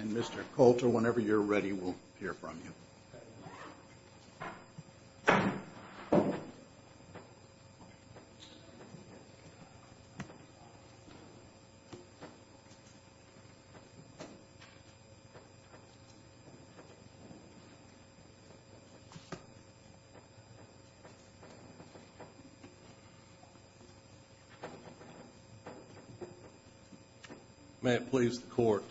and Mr. Coulter, whenever you're ready, we'll hear from you. May it please the Court.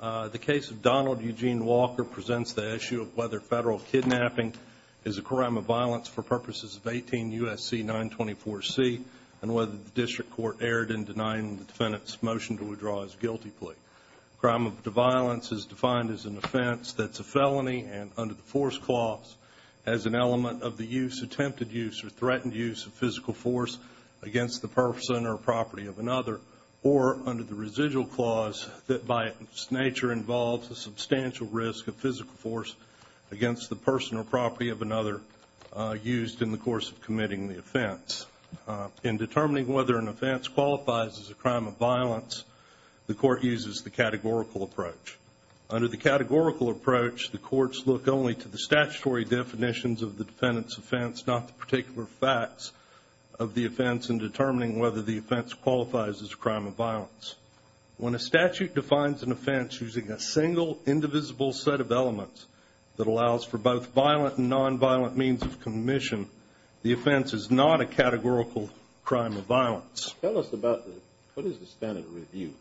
The case of Donald Eugene Walker presents the issue of whether federal kidnapping is a crime of violence for purposes of 18 U.S.C. 924C and whether the District Court erred in denying the defendant's motion to withdraw his guilty plea. Crime of violence is defined as an offense that's a felony and under the force clause as an element of the use, attempted use, or threatened use of physical force against the person or property of another or under the residual clause that by its nature involves a substantial risk of physical force against the person or property of another used in the course of committing the offense. In determining whether an offense qualifies as a crime of Under the categorical approach, the courts look only to the statutory definitions of the defendant's offense, not the particular facts of the offense in determining whether the offense qualifies as a crime of violence. When a statute defines an offense using a single, indivisible set of elements that allows for both violent and nonviolent means of commission, the offense is not a categorical crime of violence. Tell us about the, what is the standard review?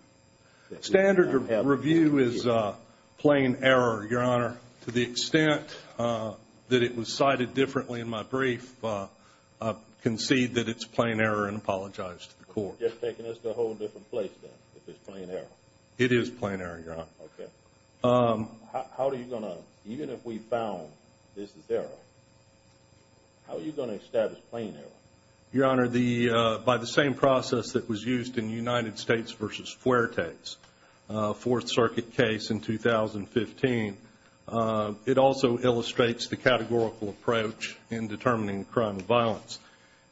Standard review is plain error, Your Honor. To the extent that it was cited differently in my brief, I concede that it's plain error and apologize to the court. Just taking us to a whole different place then, if it's plain error. It is plain error, Your Honor. Okay. How are you going to, even if we found this is error, how are you going to establish plain error? Your Honor, by the same process that was used in United States v. Fuertes, a Fourth Circuit case in 2015, it also illustrates the categorical approach in determining crime of violence.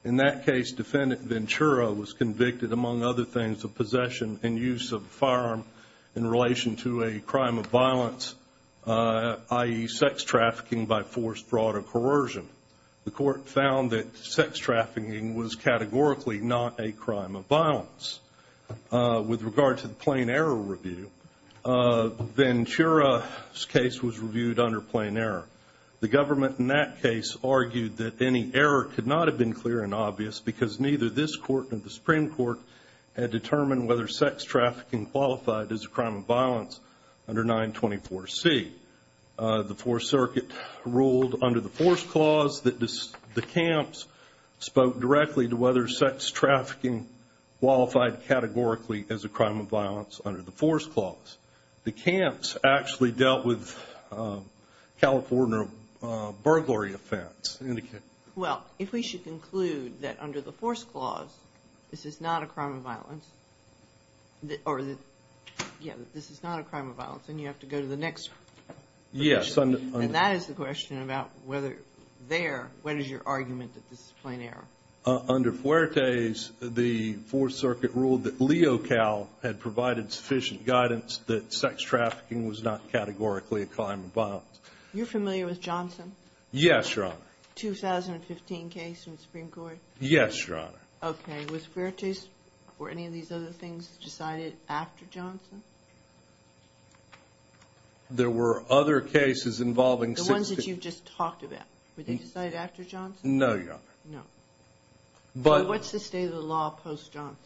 In that case, defendant Ventura was convicted, among other things, of possession and use of a firearm in relation to a crime of violence, i.e. sex trafficking by forced fraud or coercion. The court found that sex trafficking was categorically not a crime of violence. With regard to the plain error review, Ventura's case was reviewed under plain error. The government in that case argued that any error could not have been clear and obvious because neither this court nor the Supreme Court had determined whether sex trafficking qualified as a crime of violence under 924C. The Fourth Circuit ruled under the Force Clause that the camps spoke directly to whether sex trafficking qualified categorically as a crime of violence under the Force Clause. The camps actually dealt with California burglary offense. Well, if we should conclude that under the Force Clause this is not a crime of violence then you have to go to the next question. Yes. And that is the question about whether there, what is your argument that this is plain error? Under Fuertes, the Fourth Circuit ruled that LeoCAL had provided sufficient guidance that sex trafficking was not categorically a crime of violence. You're familiar with Johnson? Yes, Your Honor. The 2015 case in which these other things decided after Johnson? There were other cases involving... The ones that you just talked about, were they decided after Johnson? No, Your Honor. No. But what's the state of the law post-Johnson?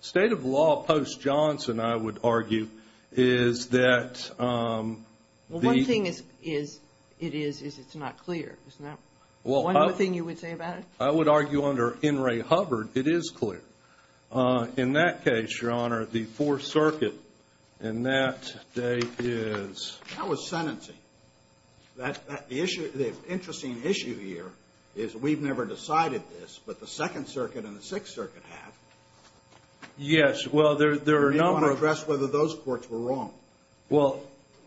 The state of the law post-Johnson, I would argue, is that... Well, one thing it is, is it's not clear. Isn't that one thing you would say about it? I would argue under In re Hubbard it is clear. In that case, Your Honor, the Fourth Circuit in that state is... That was sentencing. The interesting issue here is we've never decided this, but the Second Circuit and the Sixth Circuit have. Yes. Well, there are a number of... We want to address whether those courts were wrong. Well,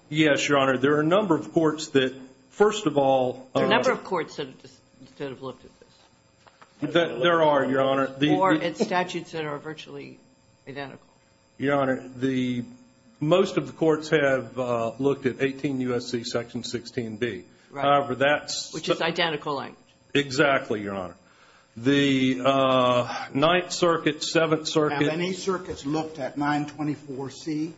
yes, Your Honor. There are a number of courts that, first of all... There are a number of courts that have looked at this. There are, Your Honor. Or at statutes that are virtually identical. Your Honor, most of the courts have looked at 18 U.S.C. Section 16B. However, that's... Which is identical language. Exactly, Your Honor. The Ninth Circuit, Seventh Circuit... Have any circuits looked at 924C?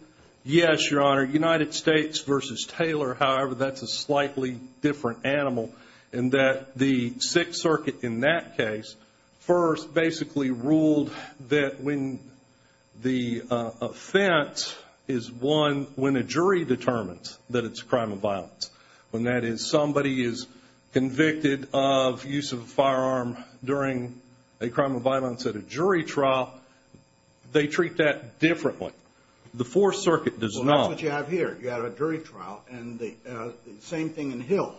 Yes, Your Honor. United States v. Taylor, however, that's a slightly different animal in that the Sixth Circuit in that case first basically ruled that when the offense is won when a jury determines that it's a crime of violence. When that is somebody is convicted of use of a firearm during a crime of violence at a jury trial, they treat that differently. The Fourth Circuit does not. Well, that's what you have here. You have a jury trial and the same thing in Hill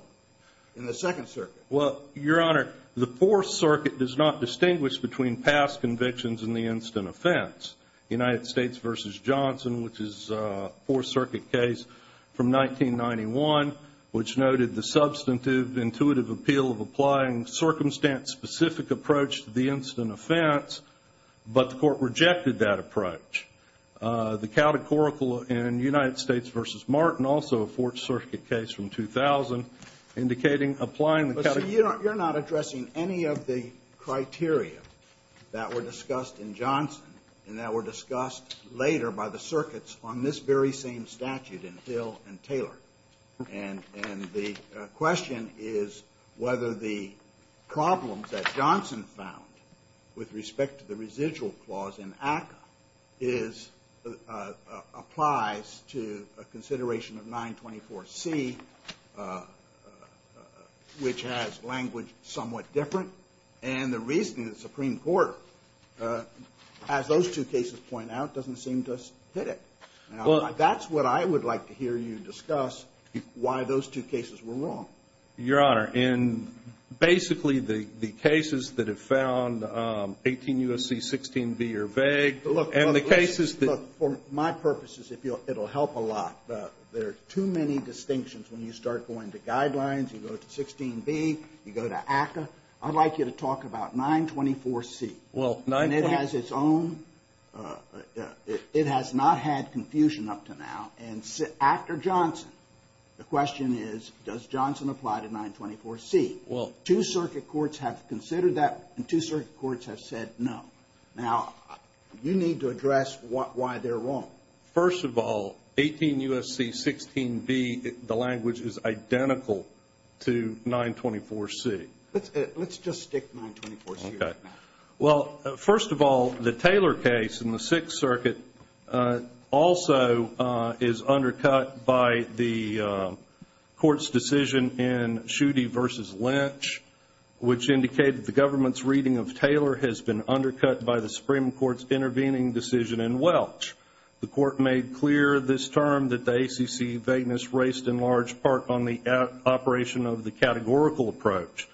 in the Second Circuit. Well, Your Honor, the Fourth Circuit does not distinguish between past convictions and the instant offense. United States v. Johnson, which is a Fourth Circuit case from 1991, which noted the substantive intuitive appeal of applying circumstance-specific approach to the instant offense, but the court did that approach. The catechorical in United States v. Martin, also a Fourth Circuit case from 2000, indicating applying the... But, sir, you're not addressing any of the criteria that were discussed in Johnson and that were discussed later by the circuits on this very same statute in Hill and Taylor. And the question is whether the problems that is applies to a consideration of 924C, which has language somewhat different, and the reasoning of the Supreme Court, as those two cases point out, doesn't seem to hit it. Now, that's what I would like to hear you discuss, why those two cases were wrong. Your Honor, in basically the cases that have found 18 U.S.C., 16 v. or vague, and the cases that... Look, for my purposes, it'll help a lot, but there are too many distinctions when you start going to guidelines, you go to 16 v., you go to ACCA. I'd like you to talk about 924C. Well, 924... And it has its own... It has not had confusion up to now. And after Johnson, the question is, does Johnson apply to 924C? Two circuit courts have considered that, and two circuit courts have said no. Now, you need to address why they're wrong. First of all, 18 U.S.C., 16 v., the language is identical to 924C. Let's just stick 924C. Okay. Well, first of all, the Taylor case in the Sixth Circuit also is undercut by the court's decision in Schuette v. Lynch, which indicated the government's reading of Taylor has been undercut by the Supreme Court's intervening decision in Welch. The court made clear this term that the ACC vagueness raced in large part on the operation of the categorical approach.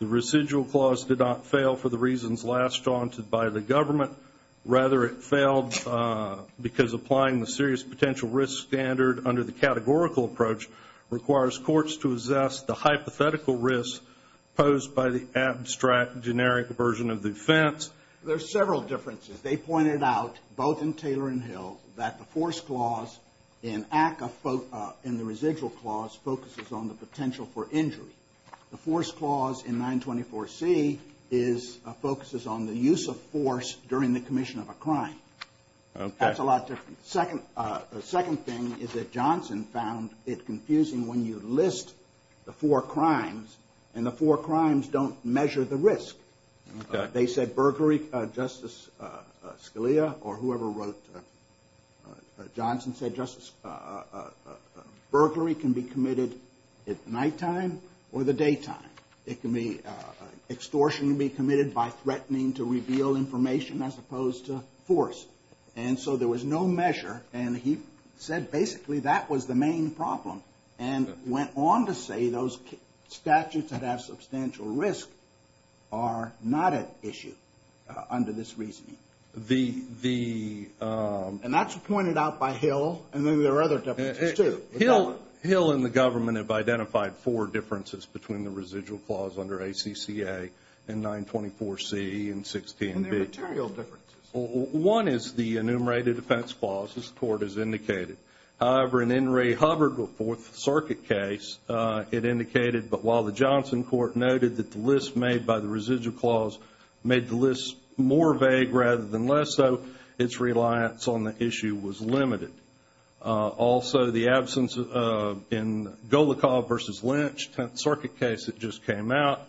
The residual clause did not fail for the reasons lashed on by the government. Rather, it failed because applying the serious potential risk standard under the categorical approach requires courts to assess the hypothetical risk posed by the abstract generic version of the offense. There's several differences. They pointed out, both in Taylor and Hill, that the force clause in the residual clause focuses on the potential for injury. The force clause in the residual clause is the same as the force clause in the commission of a crime. Okay. That's a lot different. The second thing is that Johnson found it confusing when you list the four crimes and the four crimes don't measure the risk. They said burglary, Justice Scalia, or whoever wrote Johnson said, Justice, burglary can be committed at nighttime or the daytime. It can be extortionally committed by threatening to reveal information as opposed to force. There was no measure. He said basically that was the main problem and went on to say those statutes that have substantial risk are not at issue under this reasoning. That's pointed out by Hill. Then there are other differences, too. Hill and the government have identified four differences between the residual clause under ACCA and 924C and 16B. And there are material differences. One is the enumerated offense clause, as the Court has indicated. However, in the Henry Hubbard v. Fourth Circuit case, it indicated that while the Johnson court noted that the list made by the residual clause made the list more vague rather than less so, its reliance on the issue was limited. Also, the absence in Golikov v. Lynch, 10th Circuit case that just came out,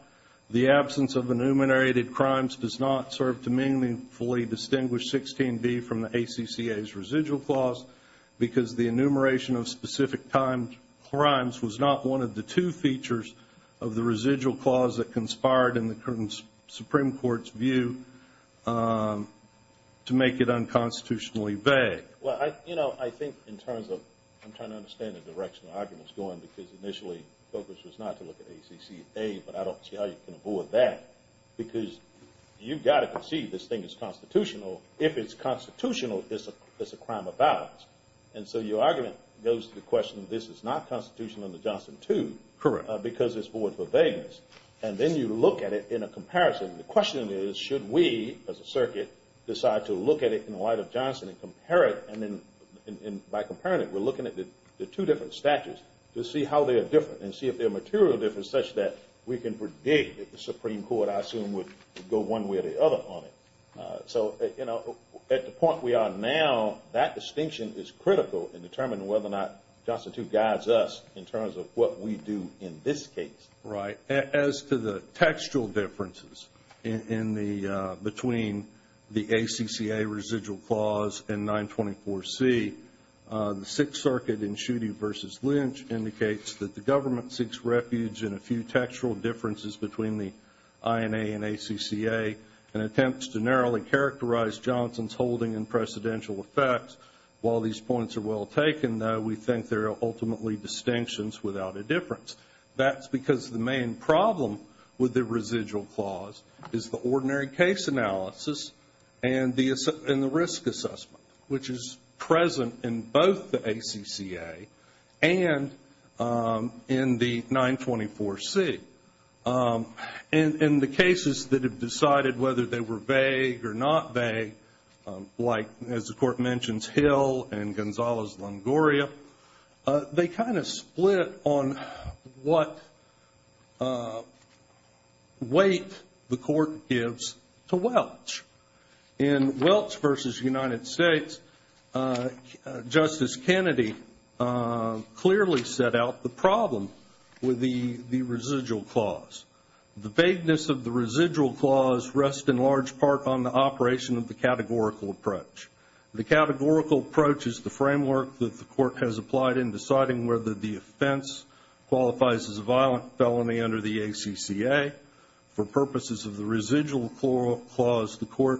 the absence of enumerated crimes does not serve to meaningfully distinguish 16B from the ACCA's residual clause because the enumeration of specific time crimes was not one of the two features of the residual clause that conspired in the Supreme Court's view to make it unconstitutionally vague. Well, I think in terms of, I'm trying to understand the direction the argument is going because initially the focus was not to look at ACCA, but I don't see how you can avoid that because you've got to conceive this thing as constitutional. If it's constitutional, it's a crime of balance. And so your argument goes to the question, this is not constitutional under Johnson 2 because it's void of vagueness. And then you look at it in a comparison. The question is, should we, as a circuit, decide to look at it in light of Johnson and compare it? And by comparing it, we're looking at the two different statutes to see how they are different and see if they're material difference such that we can predict that the Supreme Court, I assume, would go one way or the other on it. So at the point we are now, that distinction is critical in determining whether or not Johnson 2 guides us in terms of what we do in this case. Right. As to the textual differences between the ACCA residual clause and 924C, the Sixth Circuit in Schuette v. Lynch indicates that the government seeks refuge in a few textual differences between the INA and ACCA and attempts to narrowly characterize Johnson's holding and precedential effects. While these points are well taken, though, we think they're ultimately distinctions without a difference. That's because the main problem with the residual clause is the ordinary case analysis and the risk assessment, which is present in both the ACCA and in the 924C. In the cases that have decided whether they were vague or not they kind of split on what weight the court gives to Welch. In Welch v. United States, Justice Kennedy clearly set out the problem with the residual clause. The vagueness of the residual clause rests in large part on the operation of the categorical approach. The categorical approach is the framework that the court has applied in deciding whether the offense qualifies as a violent felony under the ACCA. For purposes of the residual clause, the court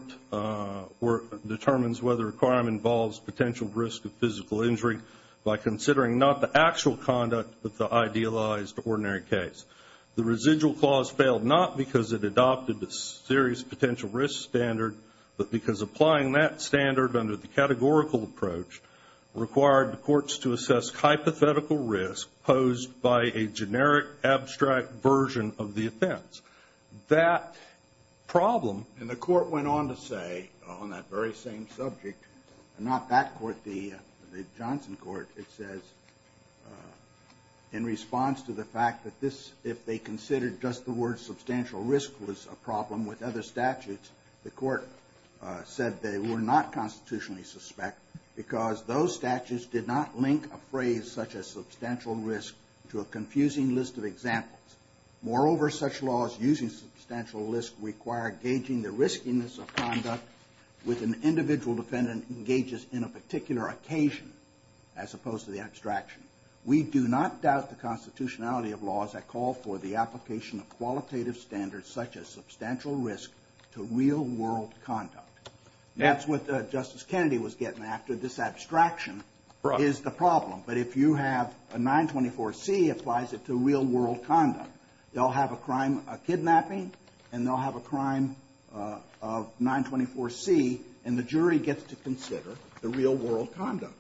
determines whether a crime involves potential risk of physical injury by considering not the actual conduct, but the idealized ordinary case. The residual clause failed not because it adopted a serious potential risk standard, but because applying that standard under the categorical approach required the courts to assess hypothetical risk posed by a generic abstract version of the offense. That problem, and the court went on to say on that very same subject, not that court, the Johnson court, it says in response to the fact that this, if they considered just the word substantial risk was a problem with other statutes, the court said they were not constitutionally suspect because those statutes did not link a phrase such as substantial risk to a confusing list of examples. Moreover, such laws using substantial risk require gauging the riskiness of conduct with an individual defendant engages in a particular occasion as opposed to the abstraction. We do not doubt the constitutionality of laws that call for the application of qualitative standards such as substantial risk to real world conduct. That's what Justice Kennedy was getting after. This abstraction is the problem. But if you have a 924C, it applies it to real world conduct. They'll have a crime of kidnapping, and they'll have a crime of 924C, and the jury gets to consider the real world conduct.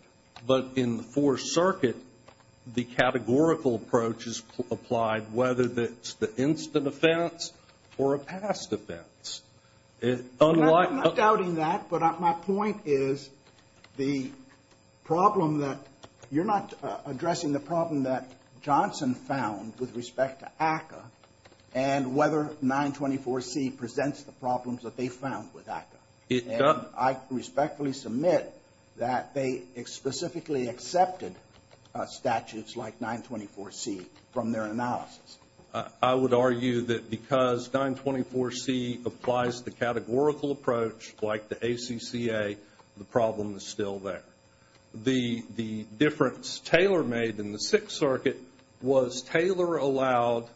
But in the Fourth Circuit, the categorical approach is applied, whether it's the instant offense or a past offense. It's unlike I'm not doubting that, but my point is the problem that you're not addressing the problem that Johnson found with respect to ACCA and whether 924C presents the problems that they found with ACCA. It does. And I respectfully submit that they specifically accepted statutes like 924C from their analysis. I would argue that because 924C applies the categorical approach like the ACCA, the problem is still there. The difference Taylor made in the Sixth Circuit was Taylor allowed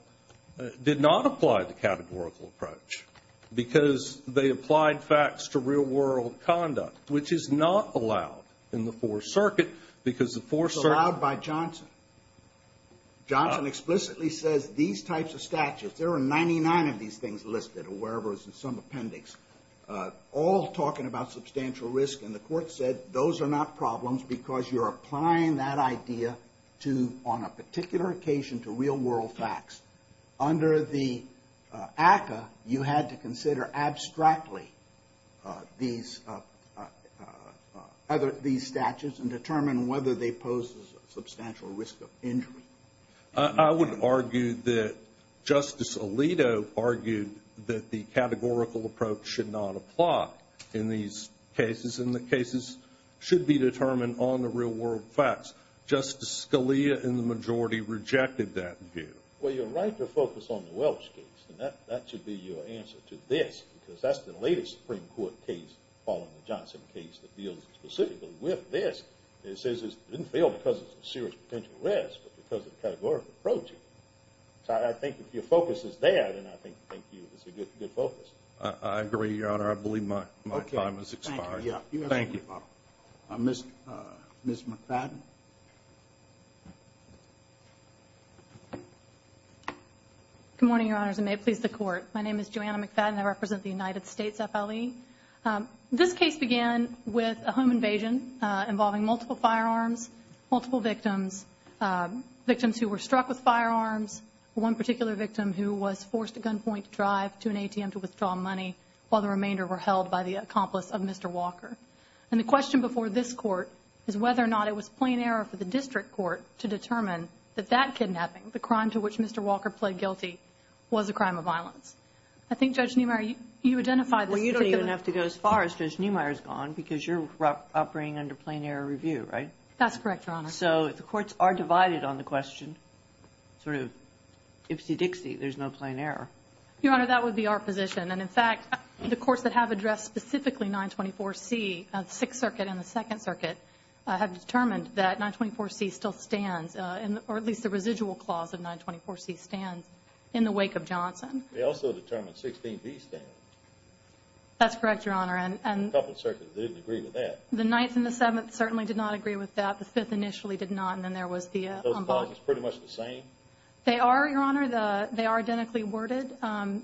did not apply the categorical approach because they applied facts to real world conduct, which is not allowed in the Fourth Circuit because the Fourth Circuit... It's allowed by Johnson. Johnson explicitly says these types of statutes, there are 99 of these things listed or wherever it's in some appendix, all talking about substantial risk. And the court said those are not problems because you're applying that idea to, on a particular occasion, to real world facts. Under the ACCA, you had to consider abstractly these statutes and determine whether they pose a substantial risk of injury. I would argue that Justice Alito argued that the categorical approach should not apply in these cases and the cases should be determined on the real world facts. Justice Scalia in the majority rejected that view. Well, you're right to focus on the Welch case and that should be your answer to this because that's the latest Supreme Court case following the Johnson case that deals specifically with this. It says it didn't fail because it's a serious potential risk, but because of the categorical approach. So I think if your focus is there, then I think it's a good focus. I agree, Your Honor. I believe my time has expired. Thank you. Ms. McFadden. Good morning, Your Honors, and may it please the Court. My name is Joanna McFadden. I represent the United States FLE. This case began with a home invasion involving multiple firearms, multiple victims, victims who were struck with firearms, one particular victim who was forced to gunpoint drive to an ATM to withdraw money while the remainder were held by the accomplice of Mr. Walker. And the question before this Court is whether or not it was plain error for the district court to determine that that kidnapping, the crime to which Mr. Walker was found guilty, was a crime of violence. I think, Judge Niemeyer, you identify this particular... Well, you don't even have to go as far as Judge Niemeyer's gone because you're operating under plain error review, right? That's correct, Your Honor. So the courts are divided on the question, sort of, ipsy-dixy, there's no plain error. Your Honor, that would be our position. And, in fact, the courts that have addressed specifically 924C, the Sixth Circuit and the Second Circuit, have determined that 924C still stands, or at least the residual clause of 924C stands, in the wake of Johnson. They also determined 16B stands. That's correct, Your Honor. And the Couple Circuits didn't agree with that. The Ninth and the Seventh certainly did not agree with that. The Fifth initially did not. And then there was the... Are those clauses pretty much the same? They are, Your Honor. They are identically worded.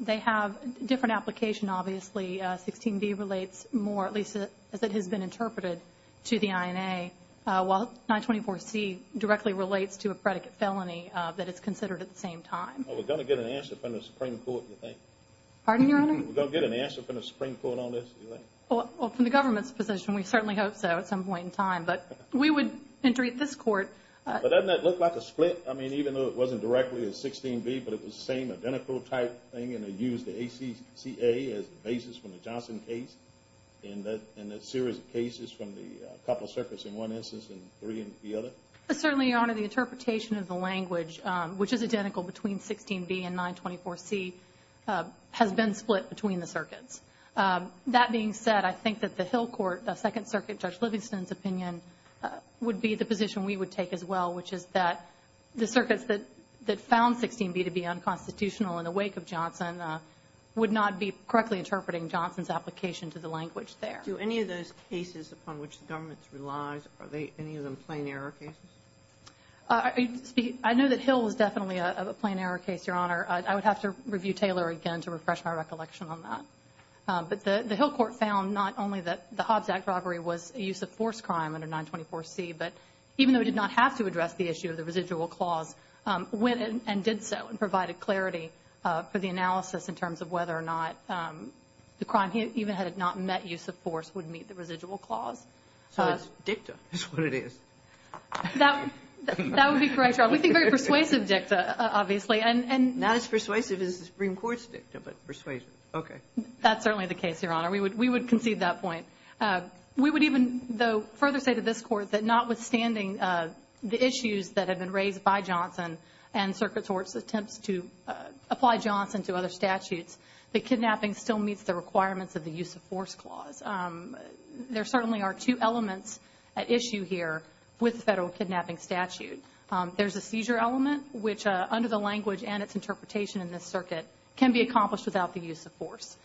They have different application, obviously. 16B relates more, at least as it has been interpreted, to the INA, while 924C directly relates to a predicate felony that is considered at the same time. Are we going to get an answer from the Supreme Court, do you think? Pardon, Your Honor? Are we going to get an answer from the Supreme Court on this, do you think? Well, from the government's position, we certainly hope so at some point in time. But we would entreat this Court... But doesn't that look like a split? I mean, even though it wasn't directly a 16B, but it was the same identical type thing, and they used the ACCA as the basis from the Johnson case, and that series of cases from the Couple Circuits in one instance and 3 in the other? Certainly, Your Honor. The interpretation of the language, which is identical between 16B and 924C, has been split between the circuits. That being said, I think that the Hill Court, the Second Circuit, Judge Livingston's opinion would be the position we would take as well, which is that the circuits that found 16B to be unconstitutional in the wake of Johnson would not be correctly interpreting Johnson's application to the language there. Do any of those cases upon which the government relies, are any of them plain error cases? I know that Hill was definitely a plain error case, Your Honor. I would have to review Taylor again to refresh my recollection on that. But the Hill Court found not only that the Hobbs Act robbery was a use of force crime under 924C, but even though it did not have to address the issue of the residual clause, went and did so and provided clarity for the analysis in terms of whether or not the crime, even had it not met use of force, would meet the residual clause. So it's dicta is what it is. That would be correct, Your Honor. We think very persuasive dicta, obviously. Not as persuasive as the Supreme Court's dicta, but persuasive. Okay. That's certainly the case, Your Honor. We would concede that point. We would even, though, further say to this Court that notwithstanding the issues that had been raised by Johnson and circuit courts' attempts to apply Johnson to other statutes, that kidnapping still meets the requirements of the use of force clause. There certainly are two elements at issue here with the federal kidnapping statute. There's a seizure element, which under the language and its interpretation in this circuit can be accomplished without the use of force.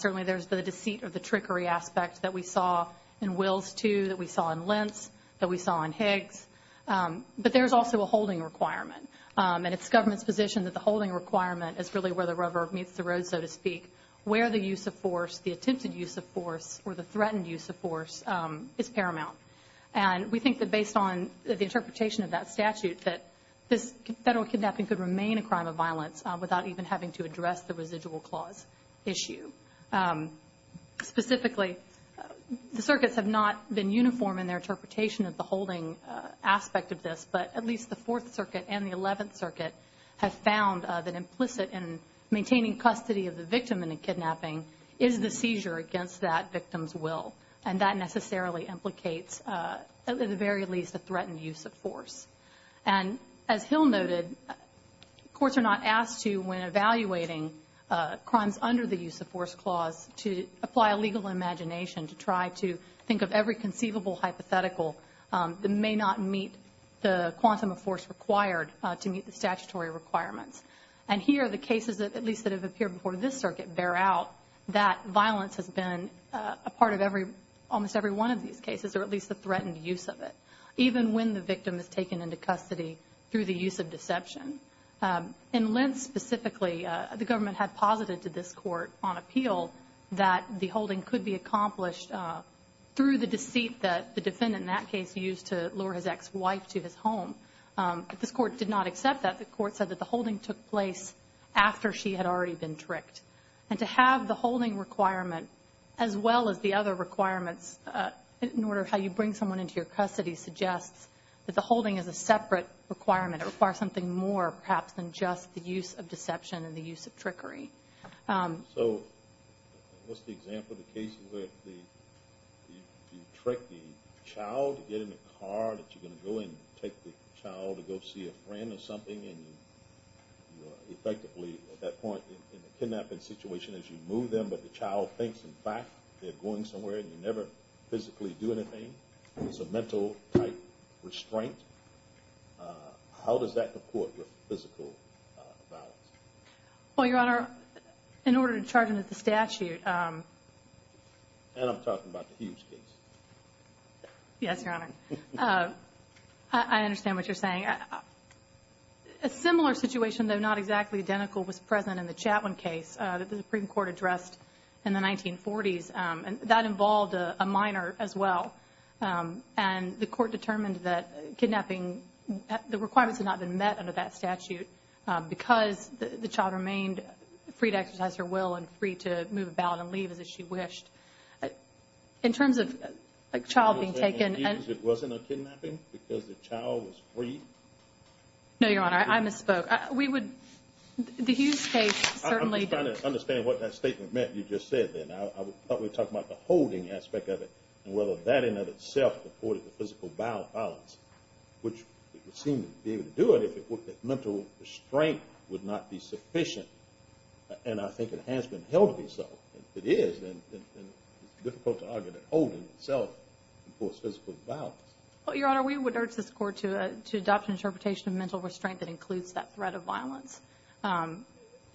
Certainly there's the deceit or the trickery aspect that we saw in Wills II, that we saw in Lentz, that we saw in Higgs. But there's also a holding requirement. And it's the government's position that the holding requirement is really where the rubber meets the road, so to speak, where the use of force, the attempted use of force or the threatened use of force is paramount. And we think that based on the interpretation of that statute, that this federal kidnapping could remain a crime of violence without even having to address the residual clause issue. Specifically, the circuits have not been uniform in their interpretation of the statute. But the courts in the 11th Circuit have found that implicit in maintaining custody of the victim in a kidnapping is the seizure against that victim's will. And that necessarily implicates, at the very least, a threatened use of force. And as Hill noted, courts are not asked to, when evaluating crimes under the use of force clause, to apply a legal imagination to try to think of every conceivable hypothetical that may not meet the quantum of force required to meet the statutory requirements. And here, the cases, at least that have appeared before this circuit, bear out that violence has been a part of every, almost every one of these cases, or at least the threatened use of it, even when the victim is taken into custody through the use of deception. In Lentz specifically, the government had posited to this court on appeal that the defendant, in that case, used to lure his ex-wife to his home. But this court did not accept that. The court said that the holding took place after she had already been tricked. And to have the holding requirement, as well as the other requirements, in order of how you bring someone into your custody, suggests that the holding is a separate requirement. It requires something more, perhaps, than just the use of deception and the use of trickery. So, what's the example of the case where you trick the child to get in the car, that you're going to go and take the child to go see a friend or something, and effectively, at that point, in the kidnapping situation, is you move them, but the child thinks, in fact, they're going somewhere, and you never physically do anything. It's a mental-type restraint. How does that comport with physical violence? Well, Your Honor, in order to charge them with the statute. And I'm talking about the Hughes case. Yes, Your Honor. I understand what you're saying. A similar situation, though not exactly identical, was present in the Chatwin case that the Supreme Court addressed in the 1940s. That involved a minor, as well. And the court determined that kidnapping, the requirements had not been met under that statute because the child remained free to exercise her will and free to move about and leave as she wished. In terms of a child being taken. It wasn't a kidnapping because the child was free? No, Your Honor. I misspoke. The Hughes case certainly. I'm just trying to understand what that statement meant you just said there. I thought we were talking about the holding aspect of it and whether that in and of itself reported the physical violence, which it seemed to be able to do it if mental restraint would not be sufficient. And I think it has been held to be so. If it is, then it's difficult to argue that holding itself reports physical violence. Well, Your Honor, we would urge this court to adopt an interpretation of mental restraint that includes that threat of violence.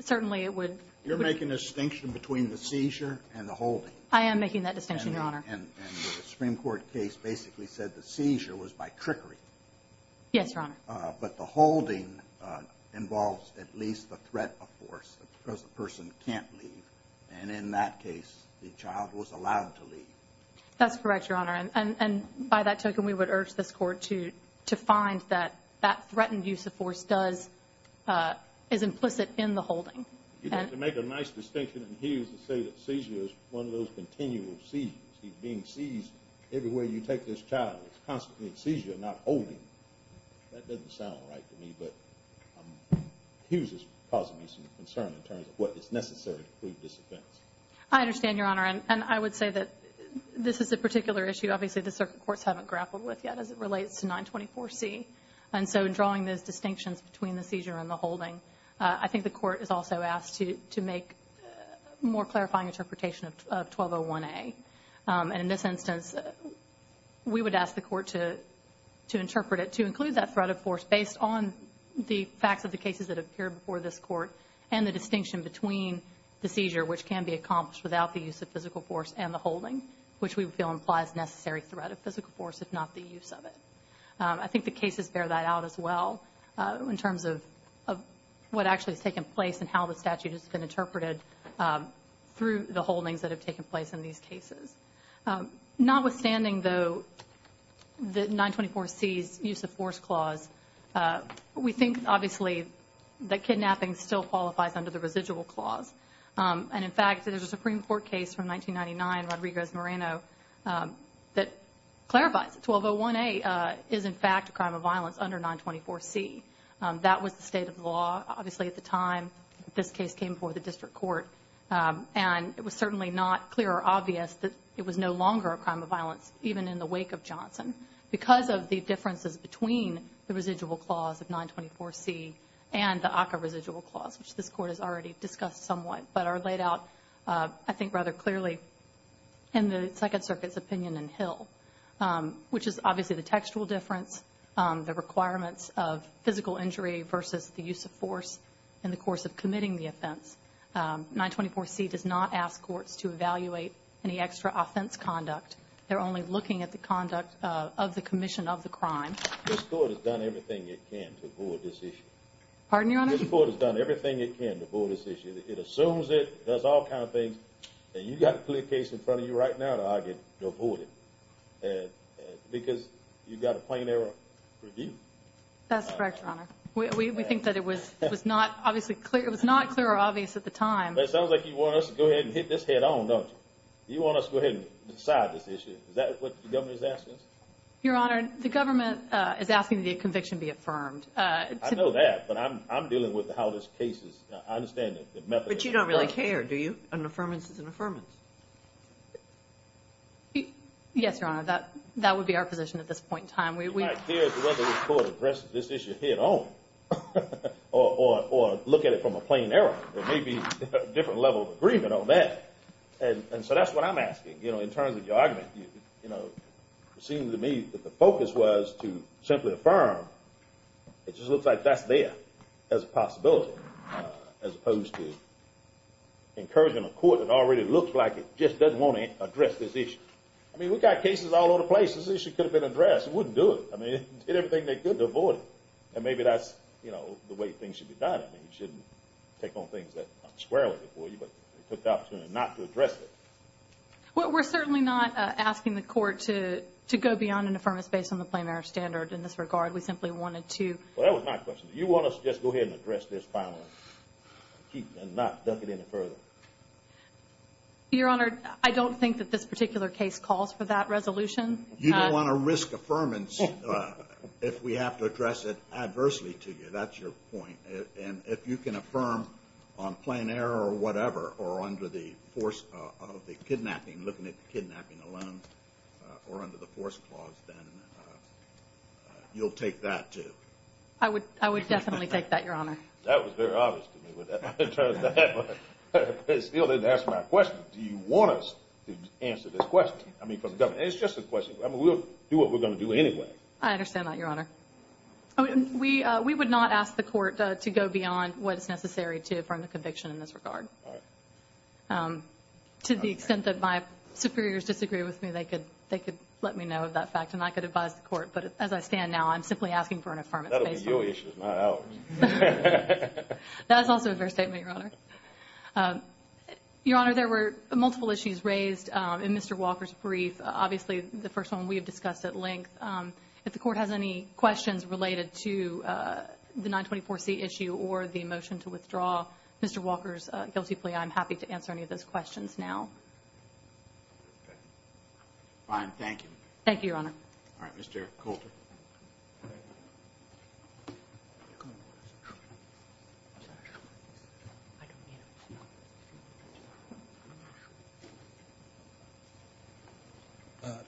Certainly, it would. You're making a distinction between the seizure and the holding. I am making that distinction, Your Honor. And the Supreme Court case basically said the seizure was by trickery. Yes, Your Honor. But the holding involves at least the threat of force because the person can't leave. And in that case, the child was allowed to leave. That's correct, Your Honor. And by that token, we would urge this court to find that that threatened use of force is implicit in the holding. You have to make a nice distinction in Hughes to say that seizure is one of those continual seizures. He's being seized everywhere you take this child. It's constantly a seizure, not holding. That doesn't sound right to me. But Hughes is causing me some concern in terms of what is necessary to prove this offense. I understand, Your Honor. And I would say that this is a particular issue. Obviously, the circuit courts haven't grappled with yet as it relates to 924C. And so in drawing those distinctions between the seizure and the holding, I think the court is also asked to make a more clarifying interpretation of 1201A. And in this instance, we would ask the court to interpret it to include that threat of force based on the facts of the cases that appeared before this court and the distinction between the seizure, which can be accomplished without the use of physical force, and the holding, which we feel implies necessary threat of physical force if not the use of it. I think the cases bear that out as well in terms of what actually has taken place and how the statute has been interpreted through the holdings that have taken place in these cases. Notwithstanding, though, the 924C's use of force clause, we think, obviously, that kidnapping still qualifies under the residual clause. And, in fact, there's a Supreme Court case from 1999, Rodriguez-Moreno, that clarifies that 1201A is, in fact, a crime of violence under 924C. That was the state of the law, obviously, at the time this case came before the district court. And it was certainly not clear or obvious that it was no longer a crime of violence, even in the wake of Johnson, because of the differences between the residual clause of 924C and the ACCA residual clause, which this court has already discussed somewhat, but are laid out, I think, rather clearly in the Second Circuit's opinion in Hill, which is, obviously, the textual difference, the requirements of physical injury versus the use of force in the 924C does not ask courts to evaluate any extra offense conduct. They're only looking at the conduct of the commission of the crime. This court has done everything it can to avoid this issue. Pardon me, Your Honor? This court has done everything it can to avoid this issue. It assumes it, does all kinds of things, and you've got a clear case in front of you right now to argue to avoid it, because you've got a plain error review. That's correct, Your Honor. We think that it was not, obviously, clear or obvious at the time. It sounds like you want us to go ahead and hit this head-on, don't you? You want us to go ahead and decide this issue. Is that what the government is asking us? Your Honor, the government is asking the conviction be affirmed. I know that, but I'm dealing with how this case is, I understand the method. But you don't really care, do you? An affirmance is an affirmance. Yes, Your Honor, that would be our position at this point in time. We might care whether this court addresses this issue head-on or look at it from a plain error. There may be a different level of agreement on that. And so that's what I'm asking. In terms of your argument, it seems to me that the focus was to simply affirm. It just looks like that's there as a possibility as opposed to encouraging a court that already looks like it just doesn't want to address this issue. I mean, we've got cases all over the place. This issue could have been addressed. It wouldn't do it. I mean, they did everything they could to avoid it. And maybe that's the way things should be done. I mean, you shouldn't take on things that aren't squarely before you, but they took the opportunity not to address it. Well, we're certainly not asking the court to go beyond an affirmance based on the plain error standard in this regard. We simply wanted to. Well, that was my question. Do you want us to just go ahead and address this finally and not duck it any further? Your Honor, I don't think that this particular case calls for that resolution. You don't want to risk affirmance if we have to address it adversely to you. That's your point. And if you can affirm on plain error or whatever or under the force of the kidnapping, looking at the kidnapping alone or under the force clause, then you'll take that too. I would definitely take that, Your Honor. That was very obvious to me. But it still didn't answer my question. Do you want us to answer this question? It's just a question. We'll do what we're going to do anyway. I understand that, Your Honor. We would not ask the court to go beyond what is necessary to affirm the conviction in this regard. All right. To the extent that my superiors disagree with me, they could let me know of that fact and I could advise the court. But as I stand now, I'm simply asking for an affirmance based on it. That will be your issue, not ours. That is also a fair statement, Your Honor. Your Honor, there were multiple issues raised in Mr. Walker's brief. Obviously, the first one we have discussed at length. If the court has any questions related to the 924C issue or the motion to withdraw Mr. Walker's guilty plea, I'm happy to answer any of those questions now. Okay. Fine. Thank you. Thank you, Your Honor. All right. Mr. Coulter. Thank you.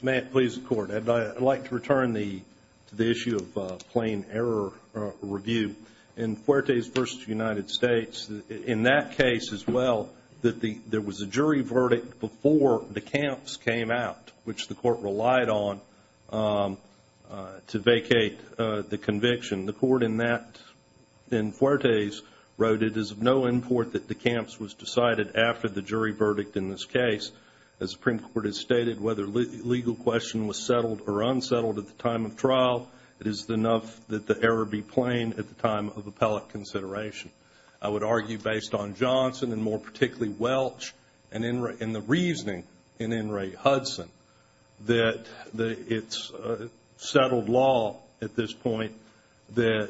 May it please the Court. I'd like to return to the issue of plain error review. In Fuertes v. United States, in that case as well, that there was a jury verdict before DeCamps came out, which the court relied on to vacate the conviction. The court in that, in Fuertes, wrote it is of no import that DeCamps was decided after the jury verdict in this case. As the Supreme Court has stated, whether legal question was settled or unsettled at the time of trial, it is enough that the error be plain at the time of appellate consideration. I would argue based on Johnson and more particularly Welch and the reasoning in In re Hudson that it's settled law at this point that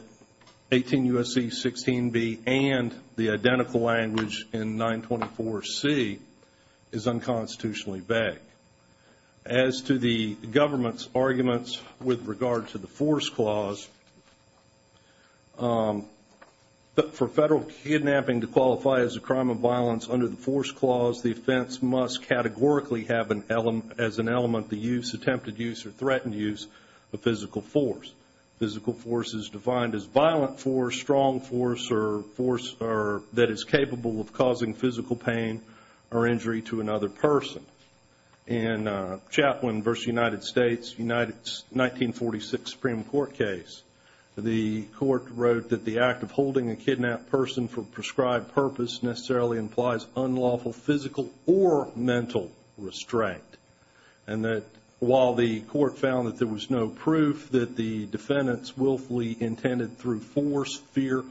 18 U.S.C. 16B and the identical language in 924C is unconstitutionally vague. As to the government's arguments with regard to the force clause, for federal kidnapping to qualify as a crime of violence under the force clause, the offense must categorically have as an element the attempted use or threatened use of physical force. Physical force is defined as violent force, strong force, that is capable of causing physical pain or injury to another person. In Chaplin v. United States, 1946 Supreme Court case, the court wrote that the act of holding a kidnapped person for prescribed purpose necessarily implies unlawful physical or mental restraint. And that while the court found that there was no proof that the defendants willfully intended through force, fear,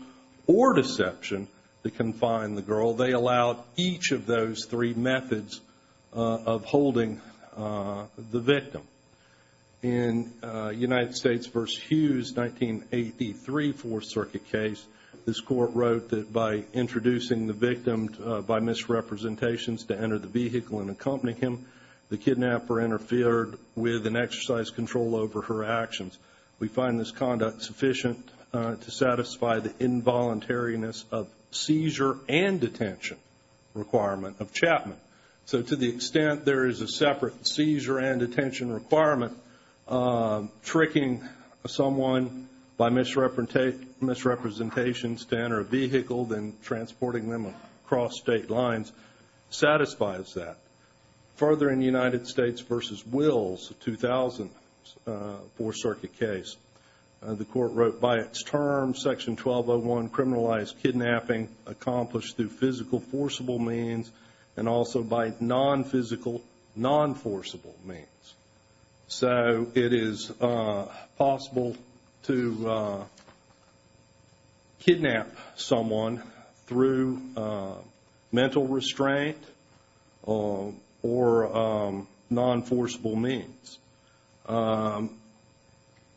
or deception to confine the girl, they allowed each of those three methods of holding the victim. In United States v. Hughes, 1983 Fourth Circuit case, this court wrote that by introducing the victim by misrepresentations to enter the vehicle and accompany him, the kidnapper interfered with and exercised control over her actions. We find this conduct sufficient to satisfy the involuntariness of seizure and detention requirement of Chapman. So to the extent there is a separate seizure and detention requirement, tricking someone by misrepresentations to enter a vehicle, then transporting them across state lines, satisfies that. Further in United States v. Wills, 2000 Fourth Circuit case, the court wrote by its term, Section 1201 criminalized kidnapping accomplished through physical forcible means and also by non-physical, non-forcible means. So it is possible to kidnap someone through mental restraint or non-forcible means.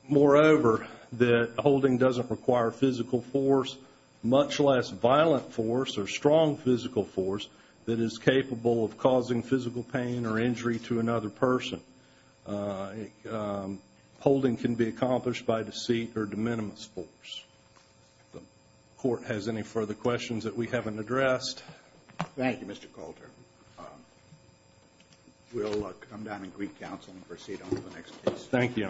Moreover, that holding doesn't require physical force, much less violent force or strong physical force that is capable of causing physical pain or injury to another person. Holding can be accomplished by deceit or de minimis force. If the court has any further questions that we haven't addressed. Thank you, Mr. Coulter. We'll come down and greet counsel and proceed on to the next case. Thank you, Your Honor.